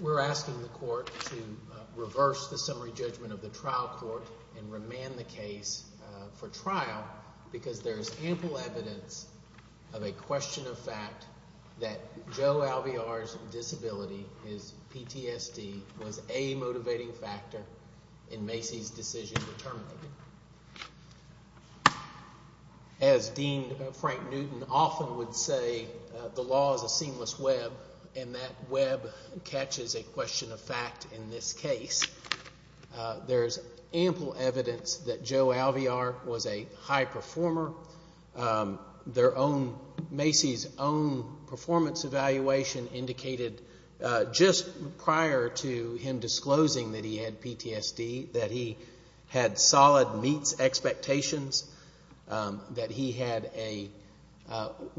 We're asking the court to reverse the summary judgment of the trial court and remand the case for trial because there's ample evidence of a question of fact that Joe Alviar's disability, his PTSD, was a motivating factor in Macy's decision to terminate him. As Dean Frank Newton often would say, the law is a seamless web, and that web catches a question of fact in this case. There's ample evidence that Joe Alviar was a high performer. Macy's own performance evaluation indicated just prior to him disclosing that he had PTSD that he had solid meets expectations, that he had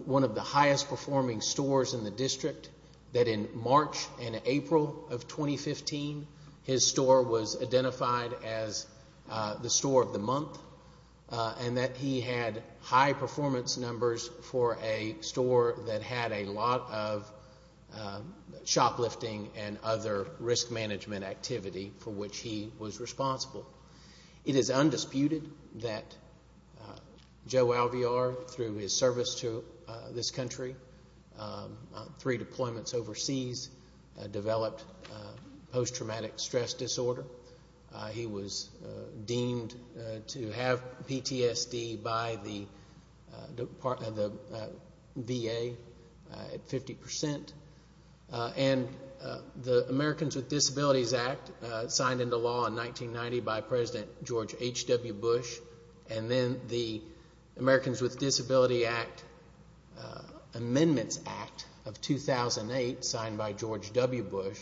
one of the highest performing stores in the district, that in March and April of 2015, his store was identified as the store of the month, and that he had high performance numbers for a store that had a lot of shoplifting and other risk management activity for which he was responsible. It is undisputed that Joe Alviar, through his service to this country, three deployments overseas, developed post-traumatic stress disorder. He was deemed to have PTSD by the VA at 50 percent, and the Americans with Disabilities Act signed into law in 1990 by President George H.W. Bush, and then the Americans with Disabilities Amendments Act of 2008 signed by George W. Bush,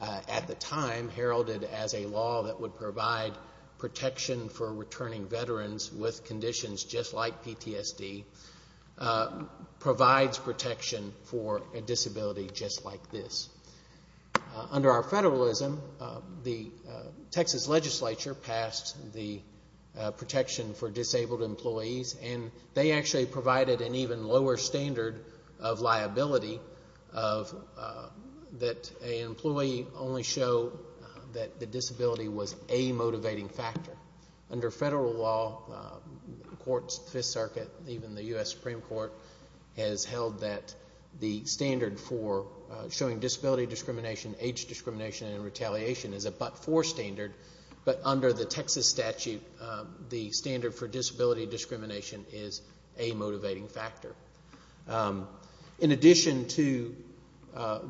at the time heralded as a law that would provide protection for returning veterans with conditions just like PTSD, provides protection for a disability just like this. Under our federalism, the Texas legislature passed the protection for disabled employees, and they actually provided an even lower standard of liability that an employee only show that the disability was a motivating factor. Under federal law, courts, the Fifth Circuit, even the U.S. Supreme Court, has held that the standard for showing disability discrimination, age discrimination, and retaliation is a but-for standard, but under the Texas statute, the standard for disability discrimination is a motivating factor. In addition to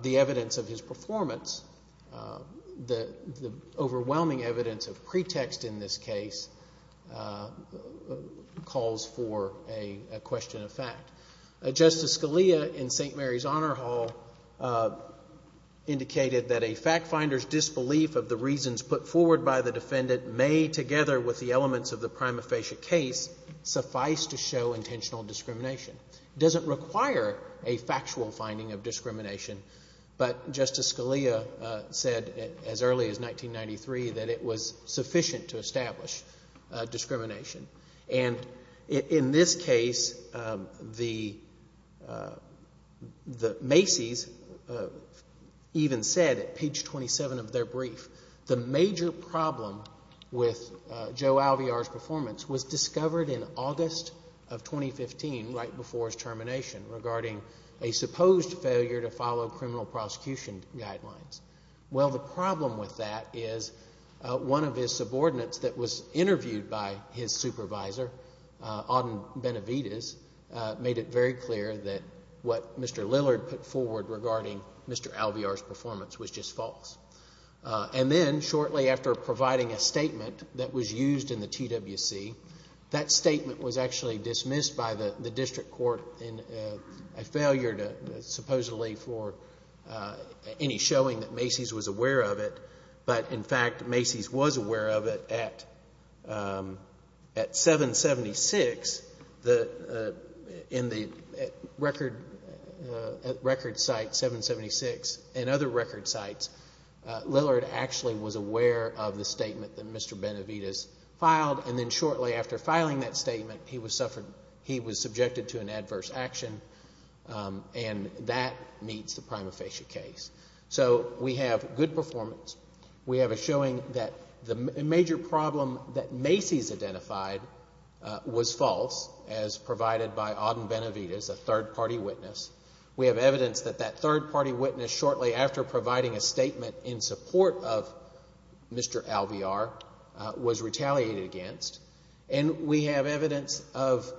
the evidence of his performance, the overwhelming evidence of pretext in this case calls for a question of fact. Justice Scalia in St. Mary's Honor Hall indicated that a fact finder's disbelief of the reasons put forward by the defendant may, together with the elements of the prima facie case, suffice to show intentional discrimination. It doesn't require a factual finding of discrimination, but Justice Scalia said as early as 1993 that it was sufficient to establish discrimination. And in this case, the Macy's even said, at page 27 of their brief, the major problem with Joe Alvear's performance was discovered in August of 2015, right before his termination, regarding a supposed failure to follow criminal prosecution guidelines. Well, the problem with that is, one of his subordinates that was interviewed by his supervisor, Auden Benavides, made it very clear that what Mr. Lillard put forward regarding Mr. Alvear's performance was just false. And then, shortly after providing a statement that was used in the TWC, that statement was aware of it, but in fact, Macy's was aware of it at 776, in the record site 776, and other record sites, Lillard actually was aware of the statement that Mr. Benavides filed, and then shortly after filing that statement, he was subjected to an adverse action, and that meets the prima facie case. So, we have good performance. We have a showing that the major problem that Macy's identified was false, as provided by Auden Benavides, a third-party witness. We have evidence that that third-party witness, shortly after providing a statement in support of Mr. Alvear, was retaliated against. And we have evidence of,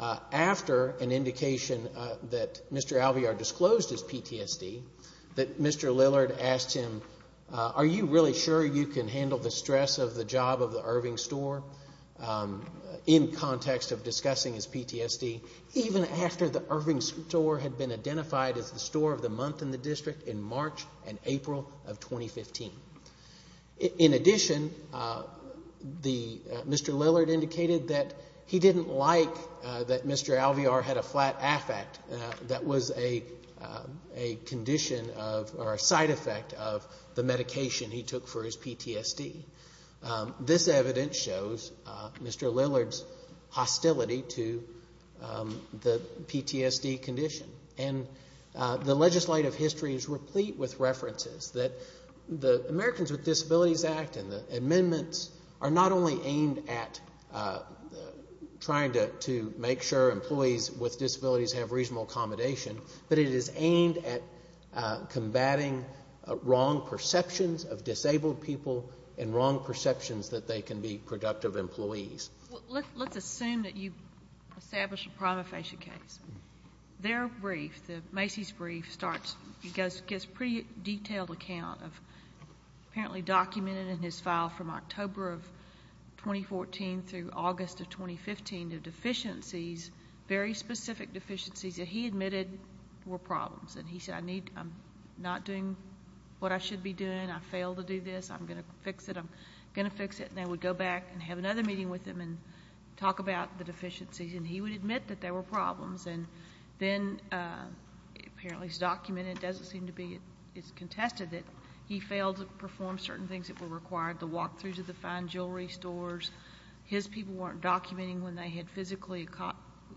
after an indication that Mr. Alvear disclosed his PTSD, that Mr. Lillard asked him, are you really sure you can handle the stress of the job of the Irving store, in context of discussing his PTSD, even after the Irving store had been identified as the store of the month in the district in March and April of 2015. In addition, Mr. Lillard indicated that he didn't like that Mr. Alvear had a flat affect that was a condition of, or a side effect of, the medication he took for his PTSD. This evidence shows Mr. Lillard's hostility to the PTSD condition. And the legislative history is replete with references that the Americans with Disabilities Act and the amendments are not only aimed at trying to make sure employees with disabilities have reasonable accommodation, but it is aimed at combating wrong perceptions of disabled people and wrong perceptions that they can be productive employees. Let's assume that you establish a prima facie case. Their brief, Macy's brief, starts, gets a pretty detailed account of, apparently documented in his file from October of 2014 through August of 2015, the deficiencies, very specific deficiencies that he admitted were problems. And he said, I'm not doing what I should be doing. I failed to do this. I'm going to fix it. I'm going to fix it. And I would go back and have another meeting with him and talk about the deficiencies. And he would admit that there were problems. And then, apparently it's documented, it doesn't seem to be, it's contested that he failed to perform certain things that were required, the walk through to the fine jewelry stores. His people weren't documenting when they had physically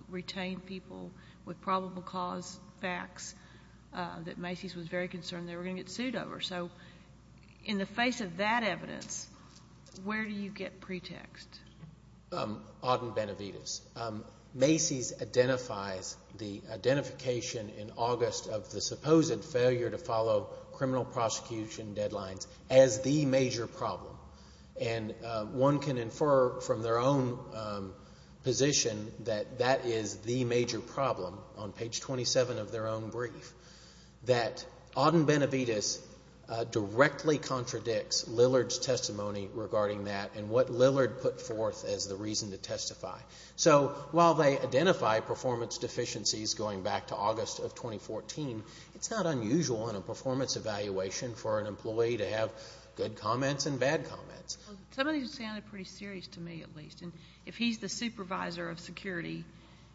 retained people with probable cause facts that Macy's was very concerned they were going to get sued over. So, in the face of that evidence, where do you get pretext? Auden Benavides. Macy's identifies the identification in August of the supposed failure to follow criminal prosecution deadlines as the major problem. And one can infer from their own position that that is the major problem on page 27 of their own brief. That Auden Benavides directly contradicts Lillard's testimony regarding that and what Lillard put forth as the reason to testify. So, while they identify performance deficiencies going back to August of 2014, it's not unusual in a performance evaluation for an employee to have good comments and bad comments. Some of these sounded pretty serious to me, at least. And if he's the supervisor of security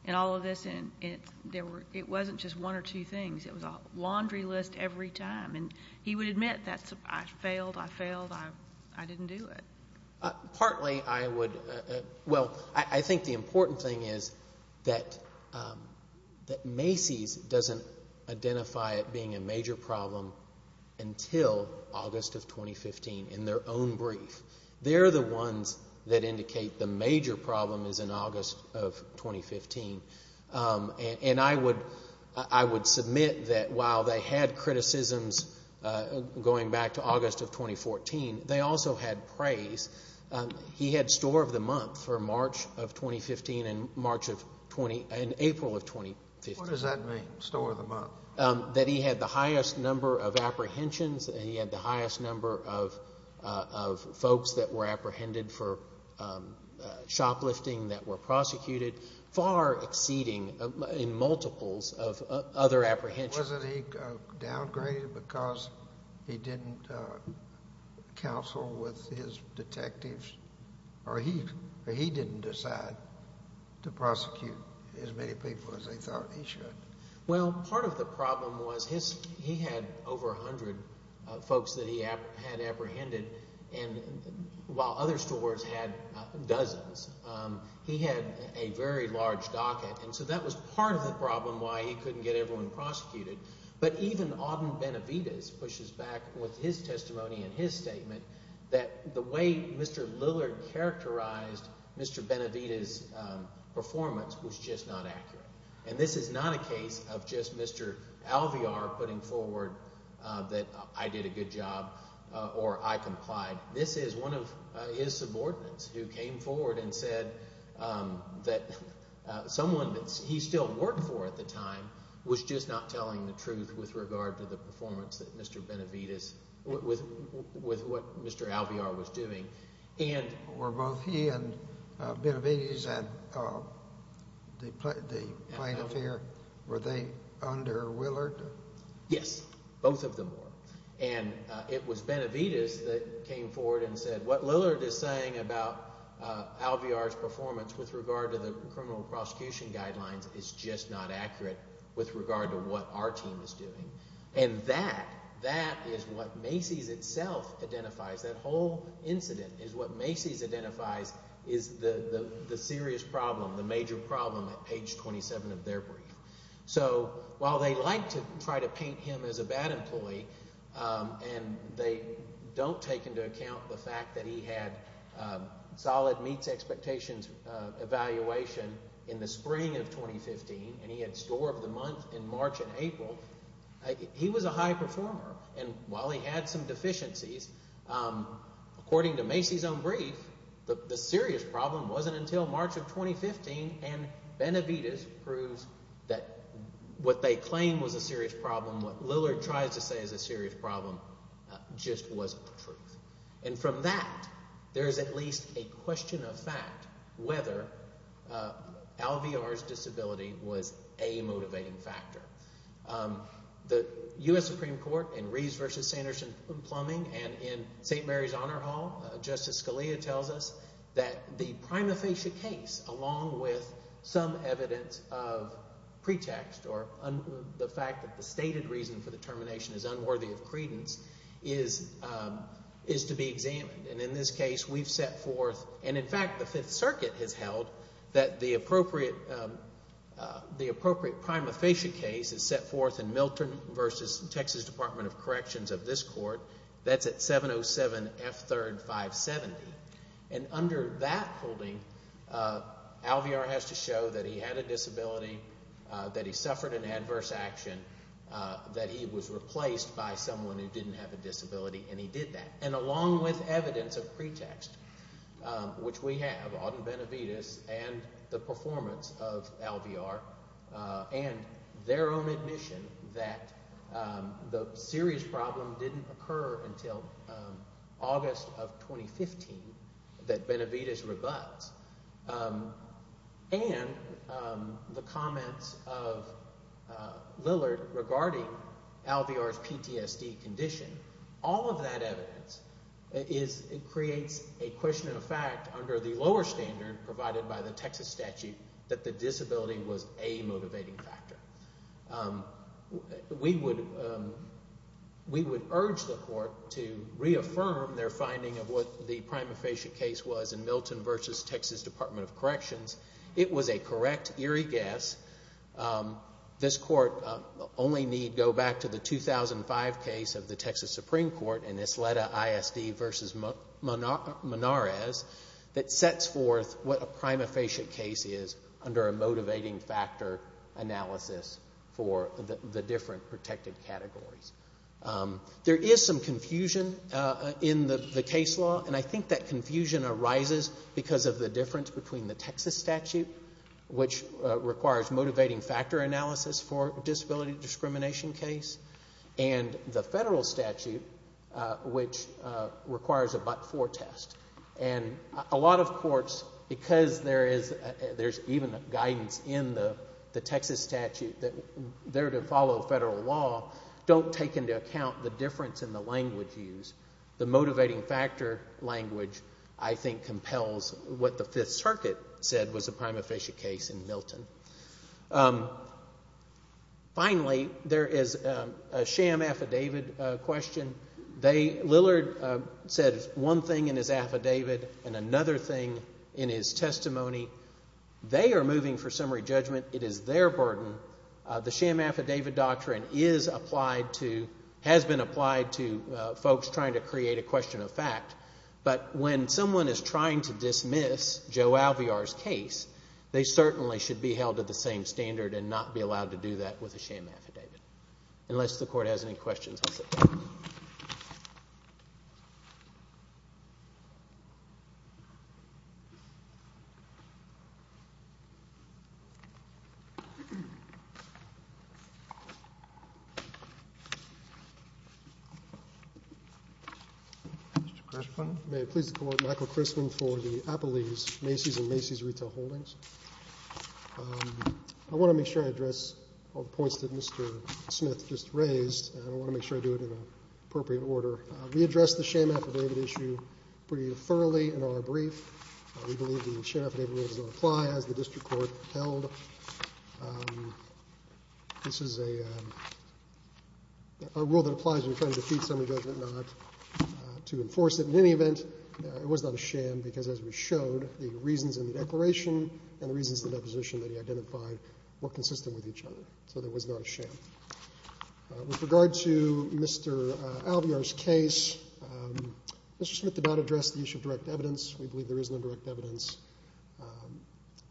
in all of this and it wasn't just one or two things, it was a laundry list every time. And he would admit that I failed, I failed, I didn't do it. Partly, I would, well, I think the important thing is that Macy's doesn't identify it being a major problem until August of 2015 in their own brief. They're the ones that indicate the major problem is in August of 2015. And I would, I would submit that while they had criticisms going back to August of 2014, they also had praise. He had store of the month for March of 2015 and March of 20, and April of 2015. What does that mean, store of the month? That he had the highest number of apprehensions. He had the highest number of folks that were apprehended for shoplifting that were exceeding in multiples of other apprehensions. Wasn't he downgraded because he didn't counsel with his detectives or he didn't decide to prosecute as many people as he thought he should? Well, part of the problem was his, he had over 100 folks that he had apprehended. And while other stores had dozens, he had a very large docket. And so that was part of the problem why he couldn't get everyone prosecuted. But even Auden Benavides pushes back with his testimony and his statement that the way Mr. Lillard characterized Mr. Benavides' performance was just not accurate. And this is not a case of just Mr. Alvear putting forward that I did a good job or I applied. This is one of his subordinates who came forward and said that someone that he still worked for at the time was just not telling the truth with regard to the performance that Mr. Benavides, with what Mr. Alvear was doing. And were both he and Benavides at the plaintiff here, were they under Willard? Yes, both of them were. And it was Benavides that came forward and said what Lillard is saying about Alvear's performance with regard to the criminal prosecution guidelines is just not accurate with regard to what our team is doing. And that, that is what Macy's itself identifies. That whole incident is what Macy's identifies is the serious problem, the major problem at page 27 of their brief. So while they like to try to paint him as a bad employee and they don't take into account the fact that he had solid meets expectations evaluation in the spring of 2015 and he had score of the month in March and April, he was a high performer. And while he had some deficiencies, according to Macy's own brief, the serious problem wasn't until March of 2015 and Benavides proves that what they claim was a serious problem, what Lillard tries to say is a serious problem, just wasn't the truth. And from that, there is at least a question of fact whether Alvear's disability was a motivating factor. The U.S. Supreme Court in Reeves v. Sanderson-Plumbing and in St. Mary's Honor Hall, Justice Scalia tells us that the prima facie case, along with some evidence of pretext or the fact that the stated reason for the termination is unworthy of credence, is to be examined. And in this case, we've set forth, and in fact the Fifth Circuit has held that the appropriate prima facie case is set forth in Milton v. Texas Department of Corrections of this court, that's at 707 F. 3rd 570. And under that holding, Alvear has to show that he had a disability, that he suffered an adverse action, that he was replaced by someone who didn't have a disability, and he did that. And along with evidence of pretext, which we have, Auden Benavides and the performance of Alvear and their own admission that the serious problem didn't occur until August of 2015 that Benavides rebuts, and the comments of Lillard regarding Alvear's PTSD condition, all of that evidence creates a question of fact under the lower standard provided by the Texas statute that the disability was a motivating factor. We would urge the court to reaffirm their finding of what the prima facie case was in Milton v. Texas Department of Corrections. It was a correct, eerie guess. This court only need go back to the 2005 case of the Texas Supreme Court in Isleta ISD v. Menares that sets forth what a prima facie case is under a motivating factor analysis for the different protected categories. There is some confusion in the case law, and I think that confusion arises because of the difference between the Texas statute, which requires motivating factor analysis for a but-for test, and a lot of courts, because there is even guidance in the Texas statute that they're to follow federal law, don't take into account the difference in the language used. The motivating factor language, I think, compels what the Fifth Circuit said was a prima facie case in Milton. Finally, there is a sham affidavit question. Lillard said one thing in his affidavit and another thing in his testimony. They are moving for summary judgment. It is their burden. The sham affidavit doctrine has been applied to folks trying to create a question of fact, but when someone is trying to dismiss Joe Alvear's case, they certainly should be held to the same standard and not be allowed to do that with a sham affidavit, unless the court has any questions. Thank you. May I please call on Michael Christman for the Appelees, Macy's and Macy's Retail Holdings. I want to make sure I address all the points that Mr. Smith just raised, and I want to make sure I do it in an appropriate order. We addressed the sham affidavit issue pretty thoroughly in our brief. We believe the sham affidavit rule does not apply, as the district court held. This is a rule that applies when you're trying to defeat summary judgment, not to enforce it. In any event, it was not a sham because, as we showed, the reasons in the declaration and the reasons in the deposition that he identified were consistent with each other, so there was not a sham. With regard to Mr. Alvear's case, Mr. Smith did not address the issue of direct evidence. We believe there is no direct evidence.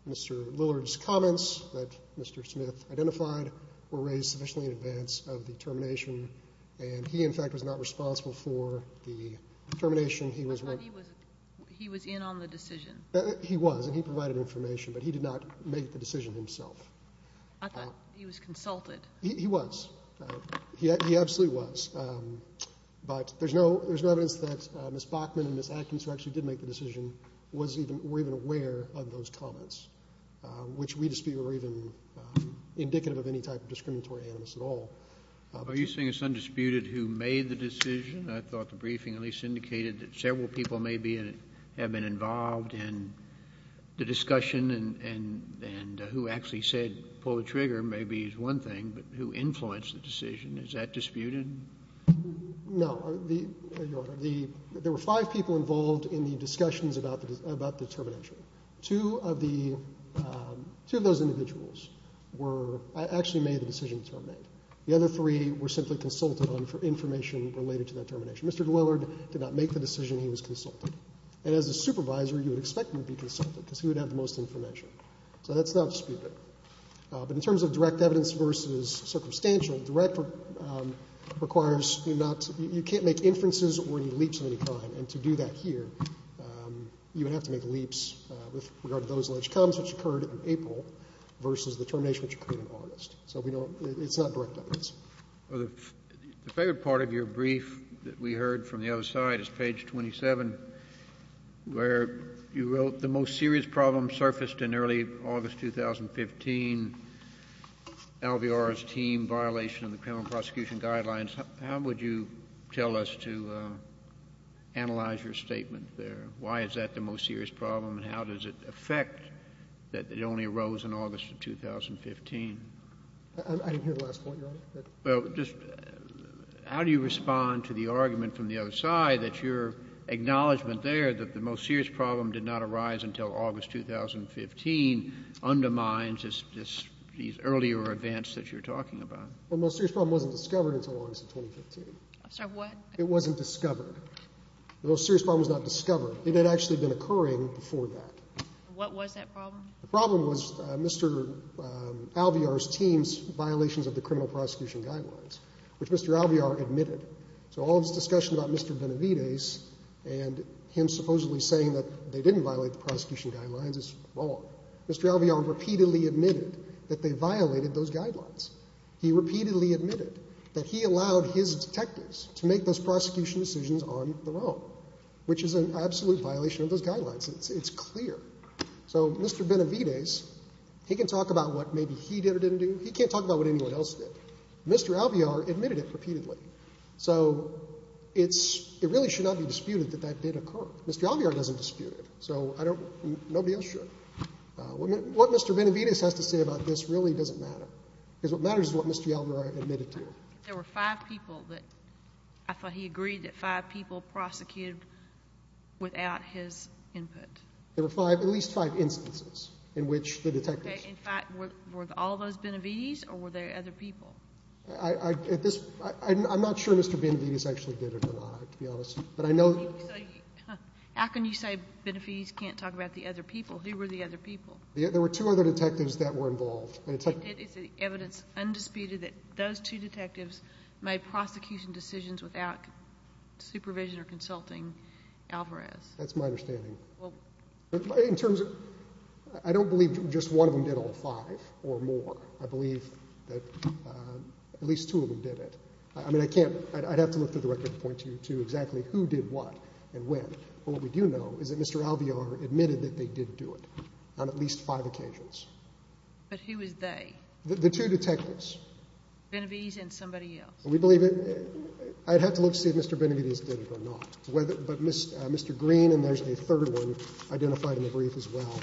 Mr. Lillard's comments that Mr. Smith identified were raised sufficiently in advance of the termination, and he, in fact, was not responsible for the termination. He was in on the decision. He was, and he provided information, but he did not make the decision himself. I thought he was consulted. He was. He absolutely was. But there's no evidence that Ms. Bachman and Ms. Atkins, who actually did make the decision, were even aware of those comments, which we dispute were even indicative of any type of discriminatory animus at all. Are you saying it's undisputed who made the decision? I thought the briefing at least indicated that several people maybe have been involved in the discussion and who actually said pull the trigger maybe is one thing, but who influenced the decision. Is that disputed? No, Your Honor. There were five people involved in the discussions about the termination. Two of the, two of those individuals were, actually made the decision to terminate. The other three were simply consulted on for information related to that termination. Mr. Lillard did not make the decision. He was consulted. And as a supervisor, you would expect him to be consulted because he would have the most information. So that's not disputed. But in terms of direct evidence versus circumstantial, direct requires you not, you can't make inferences or any leaps of any kind. And to do that here, you would have to make leaps with regard to those alleged comments which occurred in April versus the termination which occurred in August. So we don't, it's not direct evidence. Well, the favorite part of your brief that we heard from the other side is page 27, where you wrote the most serious problem surfaced in early August, 2015. LVR's team violation of the criminal prosecution guidelines. How would you tell us to analyze your statement there? Why is that the most serious problem? And how does it affect that it only arose in August of 2015? I didn't hear the last point, Your Honor. Well, just how do you respond to the argument from the other side that your acknowledgment there that the most serious problem did not arise until August 2015 undermines these earlier events that you're talking about? Well, the most serious problem wasn't discovered until August of 2015. I'm sorry, what? It wasn't discovered. The most serious problem was not discovered. It had actually been occurring before that. What was that problem? The problem was Mr. LVR's team's violations of the criminal prosecution guidelines, which Mr. LVR admitted. So all this discussion about Mr. Benavidez and him supposedly saying that they didn't violate the prosecution guidelines is wrong. Mr. LVR repeatedly admitted that they violated those guidelines. He repeatedly admitted that he allowed his detectives to make those prosecution decisions on their own, which is an absolute violation of those guidelines. It's clear. So Mr. Benavidez, he can talk about what maybe he did or didn't do. He can't talk about what anyone else did. Mr. LVR admitted it repeatedly. So it really should not be disputed that that did occur. Mr. LVR doesn't dispute it. So nobody else should. What Mr. Benavidez has to say about this really doesn't matter, because what matters is what Mr. LVR admitted to. There were five people that I thought he agreed that five people prosecuted without his input. There were five, at least five instances in which the detectives... In fact, were all those Benavidez or were there other people? I'm not sure Mr. Benavidez actually did it or not, to be honest. But I know... How can you say Benavidez can't talk about the other people? Who were the other people? There were two other detectives that were involved. And it's evidence undisputed that those two detectives made prosecution decisions without supervision or consulting Alvarez. That's my understanding. But in terms of... I don't believe just one of them did all five or more. I believe that at least two of them did it. I mean, I can't... I'd have to look through the record to point to exactly who did what and when. But what we do know is that Mr. LVR admitted that they did do it on at least five occasions. But who was they? The two detectives. Benavidez and somebody else. We believe it... I'd have to look to see if Mr. Benavidez did it or not. But Mr. Green, and there's a third one identified in the brief as well,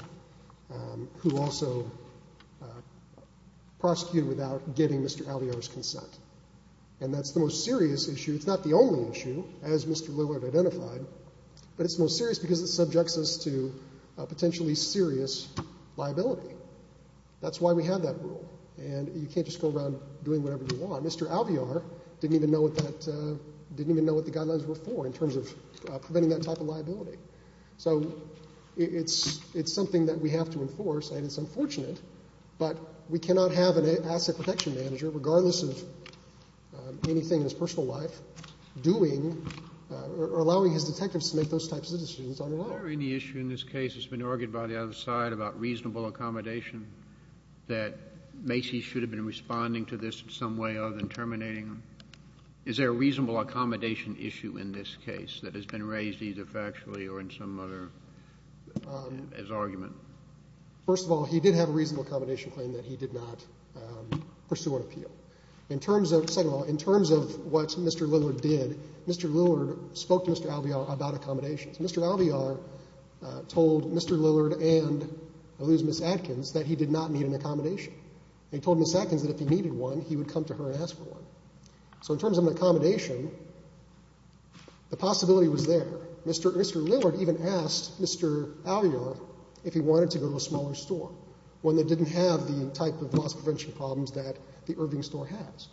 who also prosecuted without getting Mr. Alvarez's consent. And that's the most serious issue. It's not the only issue, as Mr. LVR identified. But it's more serious because it subjects us to a potentially serious liability. That's why we have that rule. And you can't just go around doing whatever you want. Mr. Alvarez didn't even know what that... Preventing that type of liability. So it's something that we have to enforce. And it's unfortunate, but we cannot have an asset protection manager, regardless of anything in his personal life, doing or allowing his detectives to make those types of decisions on their own. Is there any issue in this case that's been argued by the other side about reasonable accommodation that Macy should have been responding to this in some way other than terminating him? Is there a reasonable accommodation issue in this case that has been raised either factually or in some other as argument? First of all, he did have a reasonable accommodation claim that he did not pursue an appeal. In terms of... Second of all, in terms of what Mr. Lillard did, Mr. Lillard spoke to Mr. Alvarez about accommodations. Mr. Alvarez told Mr. Lillard and at least Ms. Atkins that he did not need an accommodation. He told Ms. Atkins that if he needed one, he would come to her and ask for one. So in terms of an accommodation, the possibility was there. Mr. Lillard even asked Mr. Alvarez if he wanted to go to a smaller store, one that didn't have the type of loss prevention problems that the Irving store has.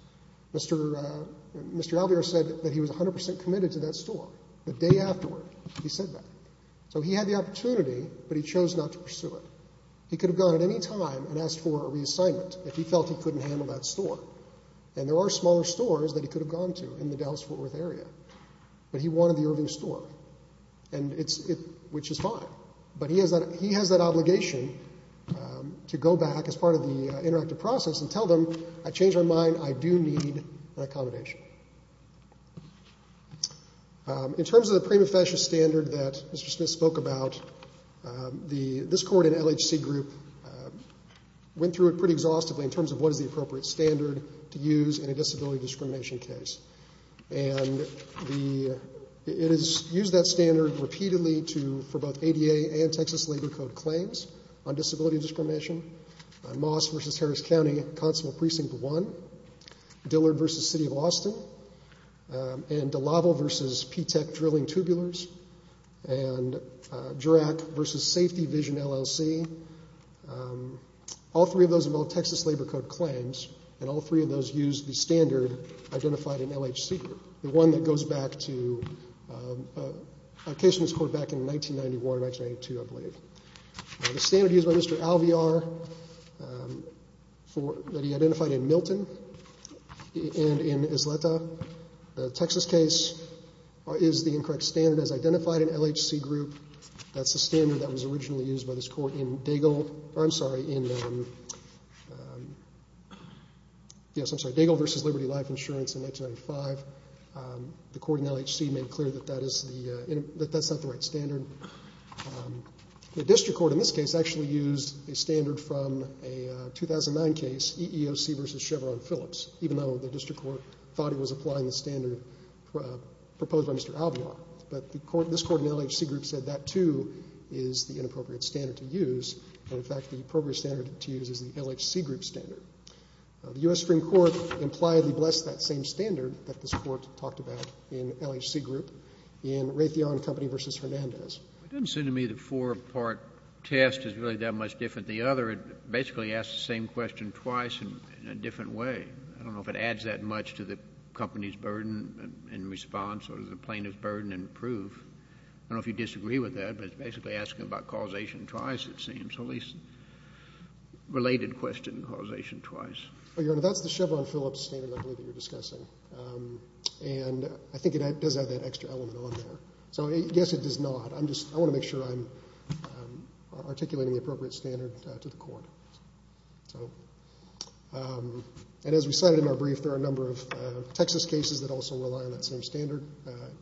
Mr. Alvarez said that he was 100% committed to that store. The day afterward, he said that. So he had the opportunity, but he chose not to pursue it. He could have gone at any time and asked for a reassignment if he felt he couldn't handle that store. And there are smaller stores that he could have gone to in the Dallas-Fort Worth area, but he wanted the Irving store, which is fine. But he has that obligation to go back as part of the interactive process and tell them, I changed my mind. I do need an accommodation. In terms of the prima facie standard that Mr. Smith spoke about, this court and LHC group went through it pretty exhaustively in terms of what is the appropriate standard to use in a disability discrimination case. And it is used that standard repeatedly for both ADA and Texas Labor Code claims on disability discrimination. Moss v. Harris County, Constable Precinct 1. Dillard v. City of Austin. And DeLaval v. P-TECH Drilling Tubulars. And Durack v. Safety Vision, LLC. All three of those are both Texas Labor Code claims, and all three of those use the standard identified in LHC group, the one that goes back to a case in this court back in 1991, 1992, I believe. The standard used by Mr. Alviar that he identified in Milton and in Isleta, the Texas case, is the incorrect standard as identified in LHC group. That's the standard that was originally used by this court in Daigle. I'm sorry, in, yes, I'm sorry, Daigle v. Liberty Life Insurance in 1995. The court in LHC made clear that that is the, that that's not the right standard. The district court in this case actually used a standard from a 2009 case, EEOC v. Chevron Phillips, even though the district court thought it was applying the standard proposed by Mr. Alviar. But the court, this court in LHC group said that, too, is the inappropriate standard to use. And, in fact, the appropriate standard to use is the LHC group standard. The U.S. Supreme Court impliedly blessed that same standard that this court talked about in LHC group in Raytheon Company v. Hernandez. JUSTICE SCALIA. It doesn't seem to me the four-part test is really that much different. The other, it basically asks the same question twice in a different way. I don't know if it adds that much to the company's burden in response or to the plaintiff's burden in proof. I don't know if you disagree with that, but it's basically asking about causation twice, it seems, or at least related question causation twice. MR. HENRY. Your Honor, that's the Chevron Phillips standard, I believe, that you're discussing. And I think it does have that extra element on there. So, yes, it does not. I'm just, I want to make sure I'm articulating the appropriate standard to the court. So, and as we cited in our brief, there are a number of Texas cases that also rely on that same standard,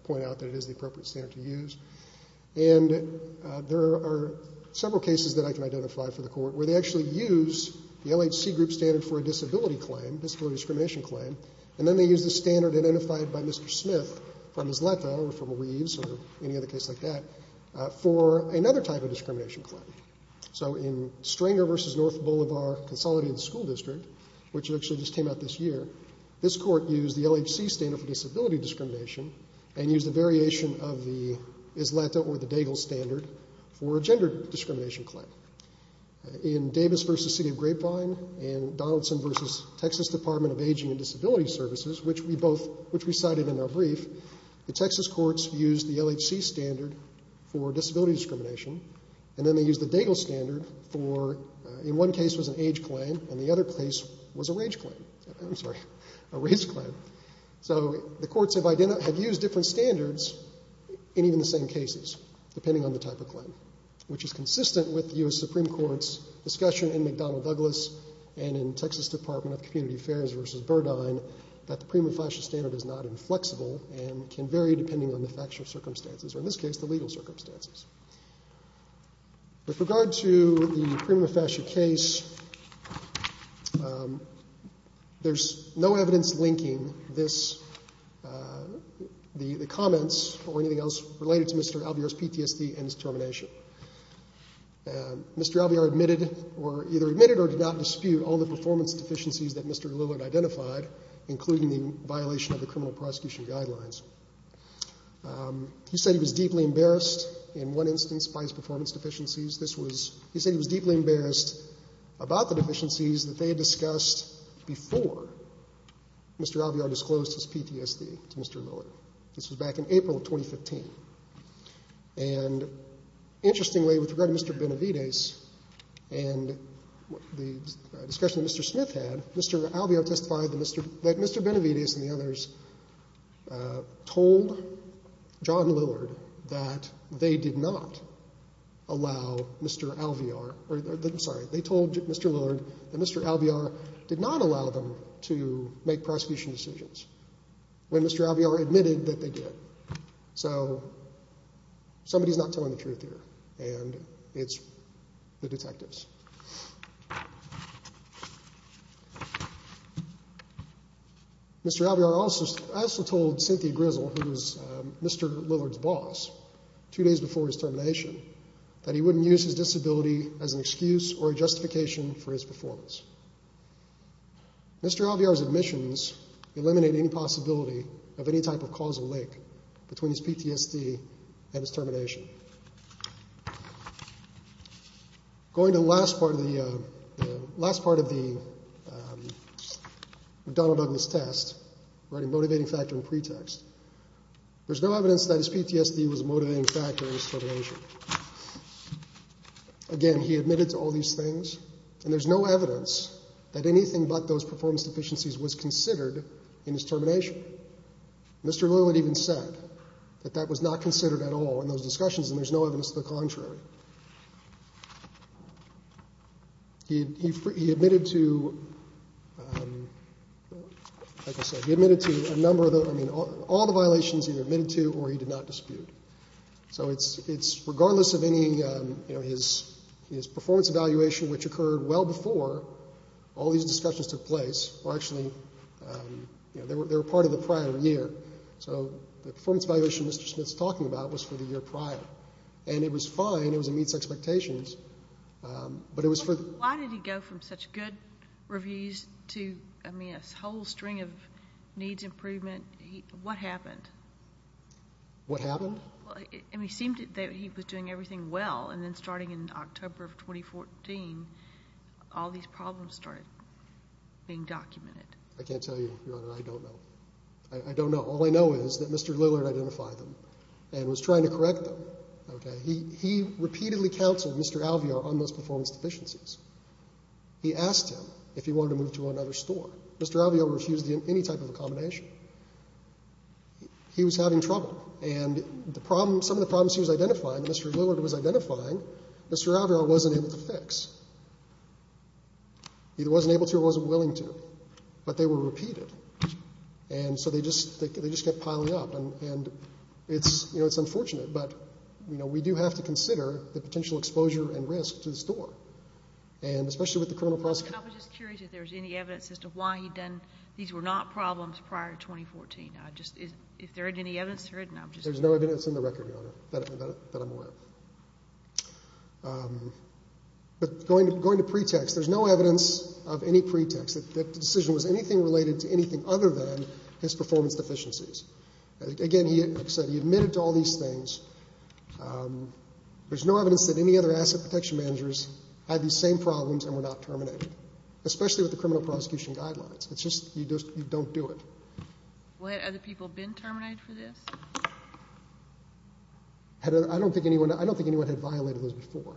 point out that it is the appropriate standard to use. And there are several cases that I can identify for the court where they actually use the LHC group standard for a disability claim, disability discrimination claim, and then they use the standard identified by Mr. Smith from his letter or from Weaves or any other case like that for another type of discrimination claim. So in Stringer v. North Boulevard Consolidated School District, which actually just came out this year, this court used the LHC standard for disability discrimination and used a variation of the ISLATA or the DAGIL standard for a gender discrimination claim. In Davis v. City of Grapevine and Donaldson v. Texas Department of Aging and Disability Services, which we both, which we cited in our brief, the Texas courts used the LHC standard for disability discrimination, and then they used the DAGIL standard for, in one case was an age claim, and the other case was a rage claim. I'm sorry, a race claim. So the courts have used different standards in even the same cases, depending on the type of claim, which is consistent with the U.S. Supreme Court's discussion in McDonnell Douglas and in Texas Department of Community Affairs v. Burdine that the prima facie standard is not inflexible and can vary depending on the factual circumstances, or in this case, the legal circumstances. With regard to the prima facie case, there's no evidence linking this, the comments or anything else related to Mr. Alvear's PTSD and his termination. Mr. Alvear admitted or either admitted or did not dispute all the performance deficiencies that Mr. Lillard identified, including the violation of the criminal prosecution guidelines. He said he was deeply embarrassed in one instance by his performance deficiencies. This was, he said he was deeply embarrassed about the deficiencies that they had discussed before Mr. Alvear disclosed his PTSD to Mr. Lillard. This was back in April of 2015. And interestingly, with regard to Mr. Benavides and the discussion that Mr. Smith had, Mr. Alvear testified that Mr. Benavides and the others told John Lillard that they did not allow Mr. Alvear, or I'm sorry, they told Mr. Lillard that Mr. Alvear did not allow them to make prosecution decisions when Mr. Alvear admitted that they did. So somebody's not telling the truth here, and it's the detectives. Mr. Alvear also told Cynthia Grizzle, who was Mr. Lillard's boss, two days before his termination, that he wouldn't use his disability as an excuse or a justification for his performance. Mr. Alvear's admissions eliminate any possibility of any type of causal link between his PTSD and his termination. Going to the last part of the, the last part of the McDonnell-Douglas test, writing motivating factor and pretext. There's no evidence that his PTSD was a motivating factor in his termination. Again, he admitted to all these things, and there's no evidence that anything but those performance deficiencies was considered in his termination. Mr. Lillard even said that that was not considered at all in those discussions. And there's no evidence to the contrary. He, he, he admitted to, like I said, he admitted to a number of the, I mean, all the violations he admitted to or he did not dispute. So it's, it's, regardless of any, you know, his, his performance evaluation, which occurred well before all these discussions took place, were actually, you know, they were part of the prior year. So the performance evaluation Mr. Smith's talking about was for the year prior. And it was fine. It was a meets expectations. But it was for... Why did he go from such good reviews to, I mean, a whole string of needs improvement? What happened? What happened? And he seemed that he was doing everything well. And then starting in October of 2014, all these problems started being documented. I can't tell you, Your Honor. I don't know. I don't know. All I know is that Mr. Lillard identified them and was trying to correct them. He repeatedly counseled Mr. Alvear on those performance deficiencies. He asked him if he wanted to move to another store. Mr. Alvear refused any type of accommodation. He was having trouble. And the problem, some of the problems he was identifying, Mr. Lillard was identifying, Mr. Alvear wasn't able to fix. He wasn't able to or wasn't willing to. But they were repeated. And so they just, they just kept piling up. And it's, you know, it's unfortunate. But, you know, we do have to consider the potential exposure and risk to the store. And especially with the criminal prosecution. And I was just curious if there was any evidence as to why he'd done, these were not problems prior to 2014. I just, if there isn't any evidence, there isn't. There's no evidence in the record, Your Honor, that I'm aware of. But going to pretext, there's no evidence of any pretext that the decision was anything related to anything other than his performance deficiencies. Again, he, like I said, he admitted to all these things. There's no evidence that any other asset protection managers had these same problems and were not terminated, especially with the criminal prosecution guidelines. It's just, you just, you don't do it. What, have other people been terminated for this? I don't think anyone, I don't think anyone had violated those before.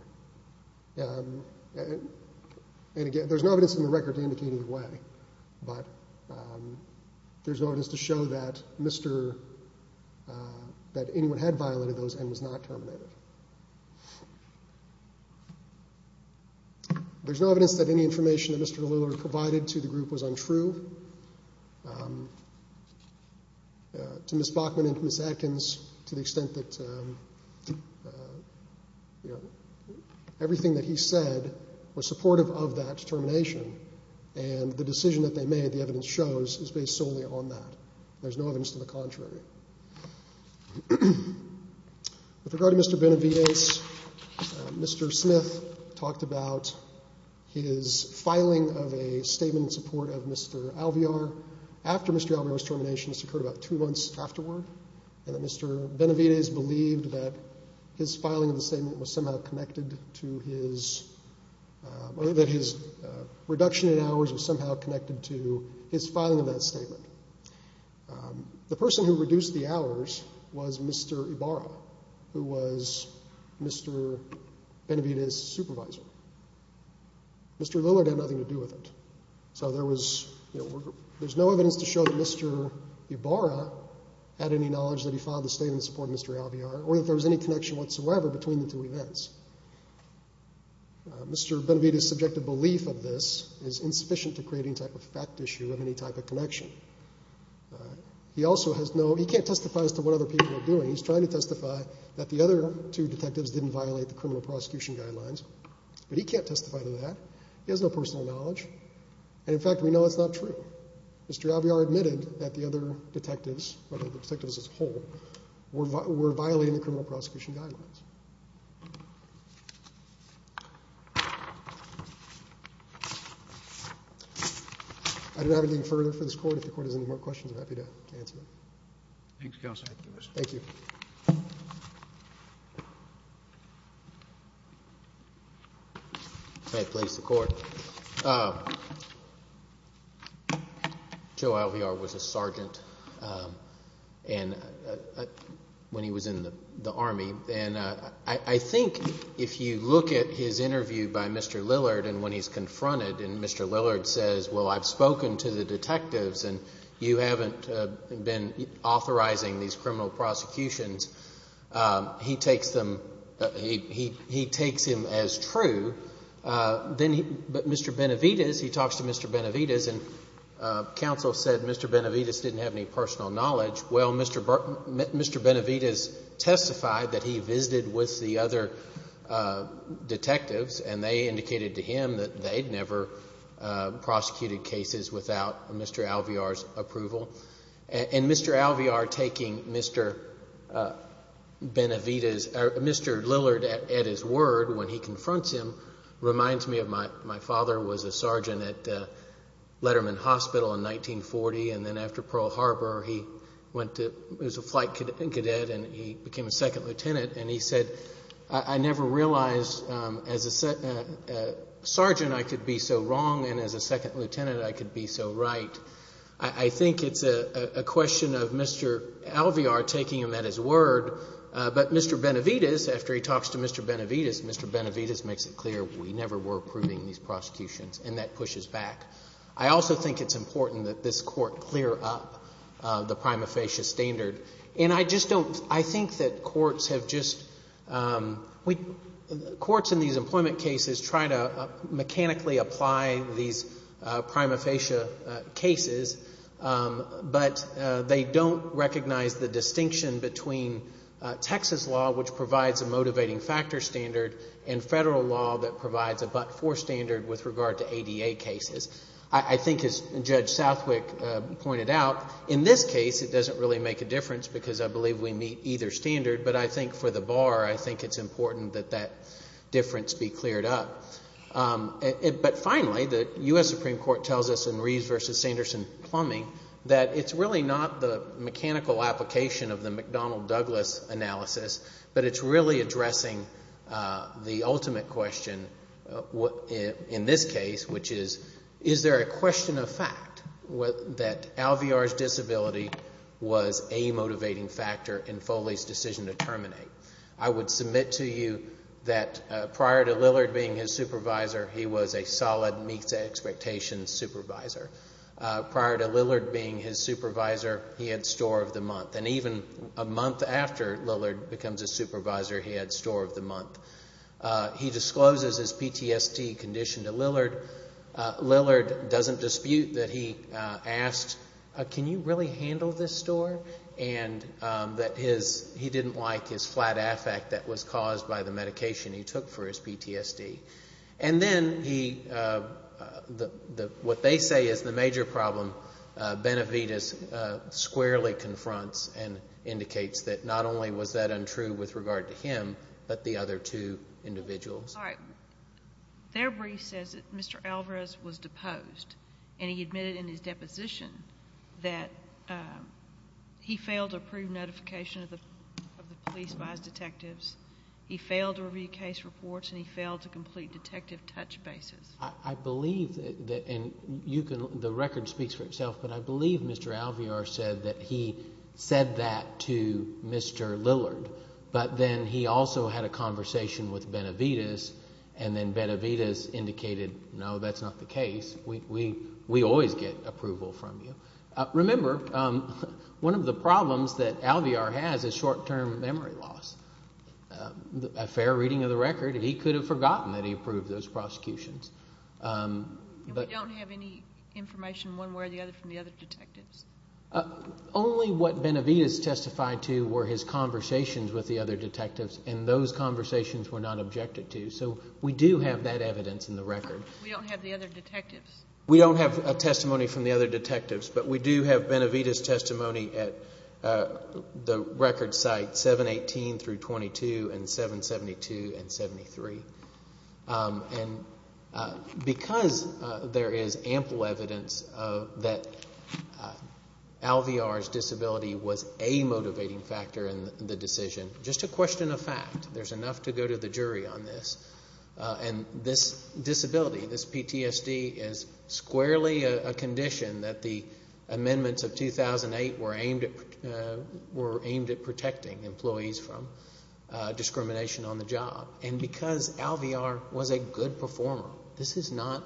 And again, there's no evidence in the record to indicate either way. But there's no evidence to show that Mr., that anyone had violated those and was not terminated. There's no evidence that any information that Mr. Lillard provided to the group was untrue. To Ms. Bachman and to Ms. Atkins, to the extent that, you know, everything that he said was supportive of that termination. And the decision that they made, the evidence shows, is based solely on that. There's no evidence to the contrary. With regard to Mr. Benavidez, Mr. Smith talked about his filing of a statement in support of Mr. Alvear after Mr. Alvear's termination. This occurred about two months afterward. And Mr. Benavidez believed that his filing of the statement was somehow connected to his, or that his reduction in hours was somehow connected to his filing of that statement. The person who reduced the hours was Mr. Ibarra, who was Mr. Benavidez's supervisor. Mr. Lillard had nothing to do with it. So there was, you know, there's no evidence to show that Mr. Ibarra had any knowledge that he filed the statement in support of Mr. Alvear, or that there was any connection whatsoever between the two events. Mr. Benavidez's subjective belief of this is insufficient to create any type of fact issue of any type of connection. He also has no, he can't testify as to what other people are doing. He's trying to testify that the other two detectives didn't violate the criminal prosecution guidelines, but he can't testify to that. He has no personal knowledge. And in fact, we know it's not true. Mr. Alvear admitted that the other detectives, or the detectives as a whole, were violating the criminal prosecution guidelines. I don't have anything further for this court. If the court has any more questions, I'm happy to answer them. Thanks, counsel. Thank you. If I could please the court. Joe Alvear was a sergeant when he was in the Army. And I think if you look at his interview by Mr. Lillard and when he's confronted and Mr. Lillard says, well, I've spoken to the detectives and you haven't been authorizing these criminal prosecutions, he takes them, he takes him as true, but Mr. Benavides, he talks to Mr. Benavides and counsel said Mr. Benavides didn't have any personal knowledge. Well, Mr. Benavides testified that he visited with the other detectives and they indicated to him that they'd never prosecuted cases without Mr. Alvear's approval. And Mr. Alvear taking Mr. Benavides, or Mr. Lillard at his word when he confronts him reminds me of my, my father was a sergeant at Letterman Hospital in 1940. And then after Pearl Harbor, he went to, was a flight cadet and he became a second lieutenant. And he said, I never realized as a sergeant, I could be so wrong. And as a second lieutenant, I could be so right. I think it's a question of Mr. Alvear taking him at his word, but Mr. Benavides, after he talks to Mr. Benavides, Mr. Benavides makes it clear we never were approving these prosecutions and that pushes back. I also think it's important that this Court clear up the prima facie standard. And I just don't, I think that courts have just, courts in these employment cases try to make it clear that they recognize the distinction between Texas law, which provides a motivating factor standard and federal law that provides a but-for standard with regard to ADA cases. I think as Judge Southwick pointed out, in this case, it doesn't really make a difference because I believe we meet either standard. But I think for the bar, I think it's important that that difference be cleared up. But finally, the U.S. Supreme Court tells us in Reeves v. Sanderson-Plumbing that it's really not the mechanical application of the McDonnell-Douglas analysis, but it's really addressing the ultimate question in this case, which is, is there a question of fact that Alvear's disability was a motivating factor in Foley's decision to terminate? I would submit to you that prior to Lillard being his supervisor, he was a solid meets expectations supervisor. Prior to Lillard being his supervisor, he had store of the month. And even a month after Lillard becomes his supervisor, he had store of the month. He discloses his PTSD condition to Lillard. Lillard doesn't dispute that he asked, can you really handle this store? And that he didn't like his flat affect that was caused by the medication he took for his PTSD. And then what they say is the major problem, Benavides squarely confronts and indicates that not only was that untrue with regard to him, but the other two individuals. All right. Their brief says that Mr. Alvarez was deposed and he admitted in his deposition that he failed to approve notification of the police by his detectives. He failed to review case reports and he failed to complete detective touch bases. I believe that, and you can, the record speaks for itself, but I believe Mr. Alvear said that he said that to Mr. Lillard. But then he also had a conversation with Benavides and then Benavides indicated, no, that's not the case. We always get approval from you. Remember, one of the problems that Alvear has is short-term memory loss. A fair reading of the record, he could have forgotten that he approved those prosecutions. We don't have any information one way or the other from the other detectives. Only what Benavides testified to were his conversations with the other detectives, and those conversations were not objected to. So we do have that evidence in the record. We don't have the other detectives. We don't have a testimony from the other detectives, but we do have Benavides' testimony at the record site 718 through 22 and 772 and 73. And because there is ample evidence that Alvear's disability was a motivating factor in the decision, just a question of fact, there's enough to go to the jury on this, and this disability, this PTSD is squarely a condition that the amendments of 2008 were aimed at protecting employees from discrimination on the job. And because Alvear was a good performer, this is not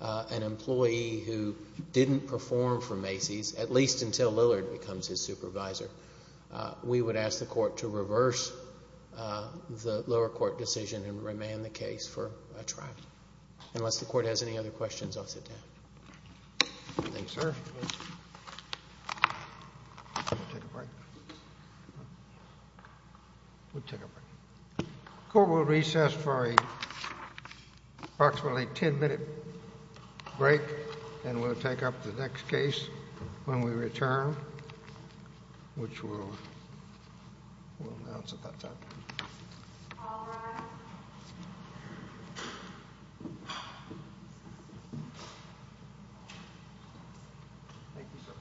an employee who didn't perform for Macy's, at least until Lillard becomes his supervisor, we would ask the court to reverse the lower court decision and remand the case for a trial. Unless the court has any other questions, I'll sit down. Thank you, sir. We'll take a break. The court will recess for approximately a 10-minute break, and we'll take up the next case when we return, which we'll announce at that time. Thank you, sir. Thank you. Thank you.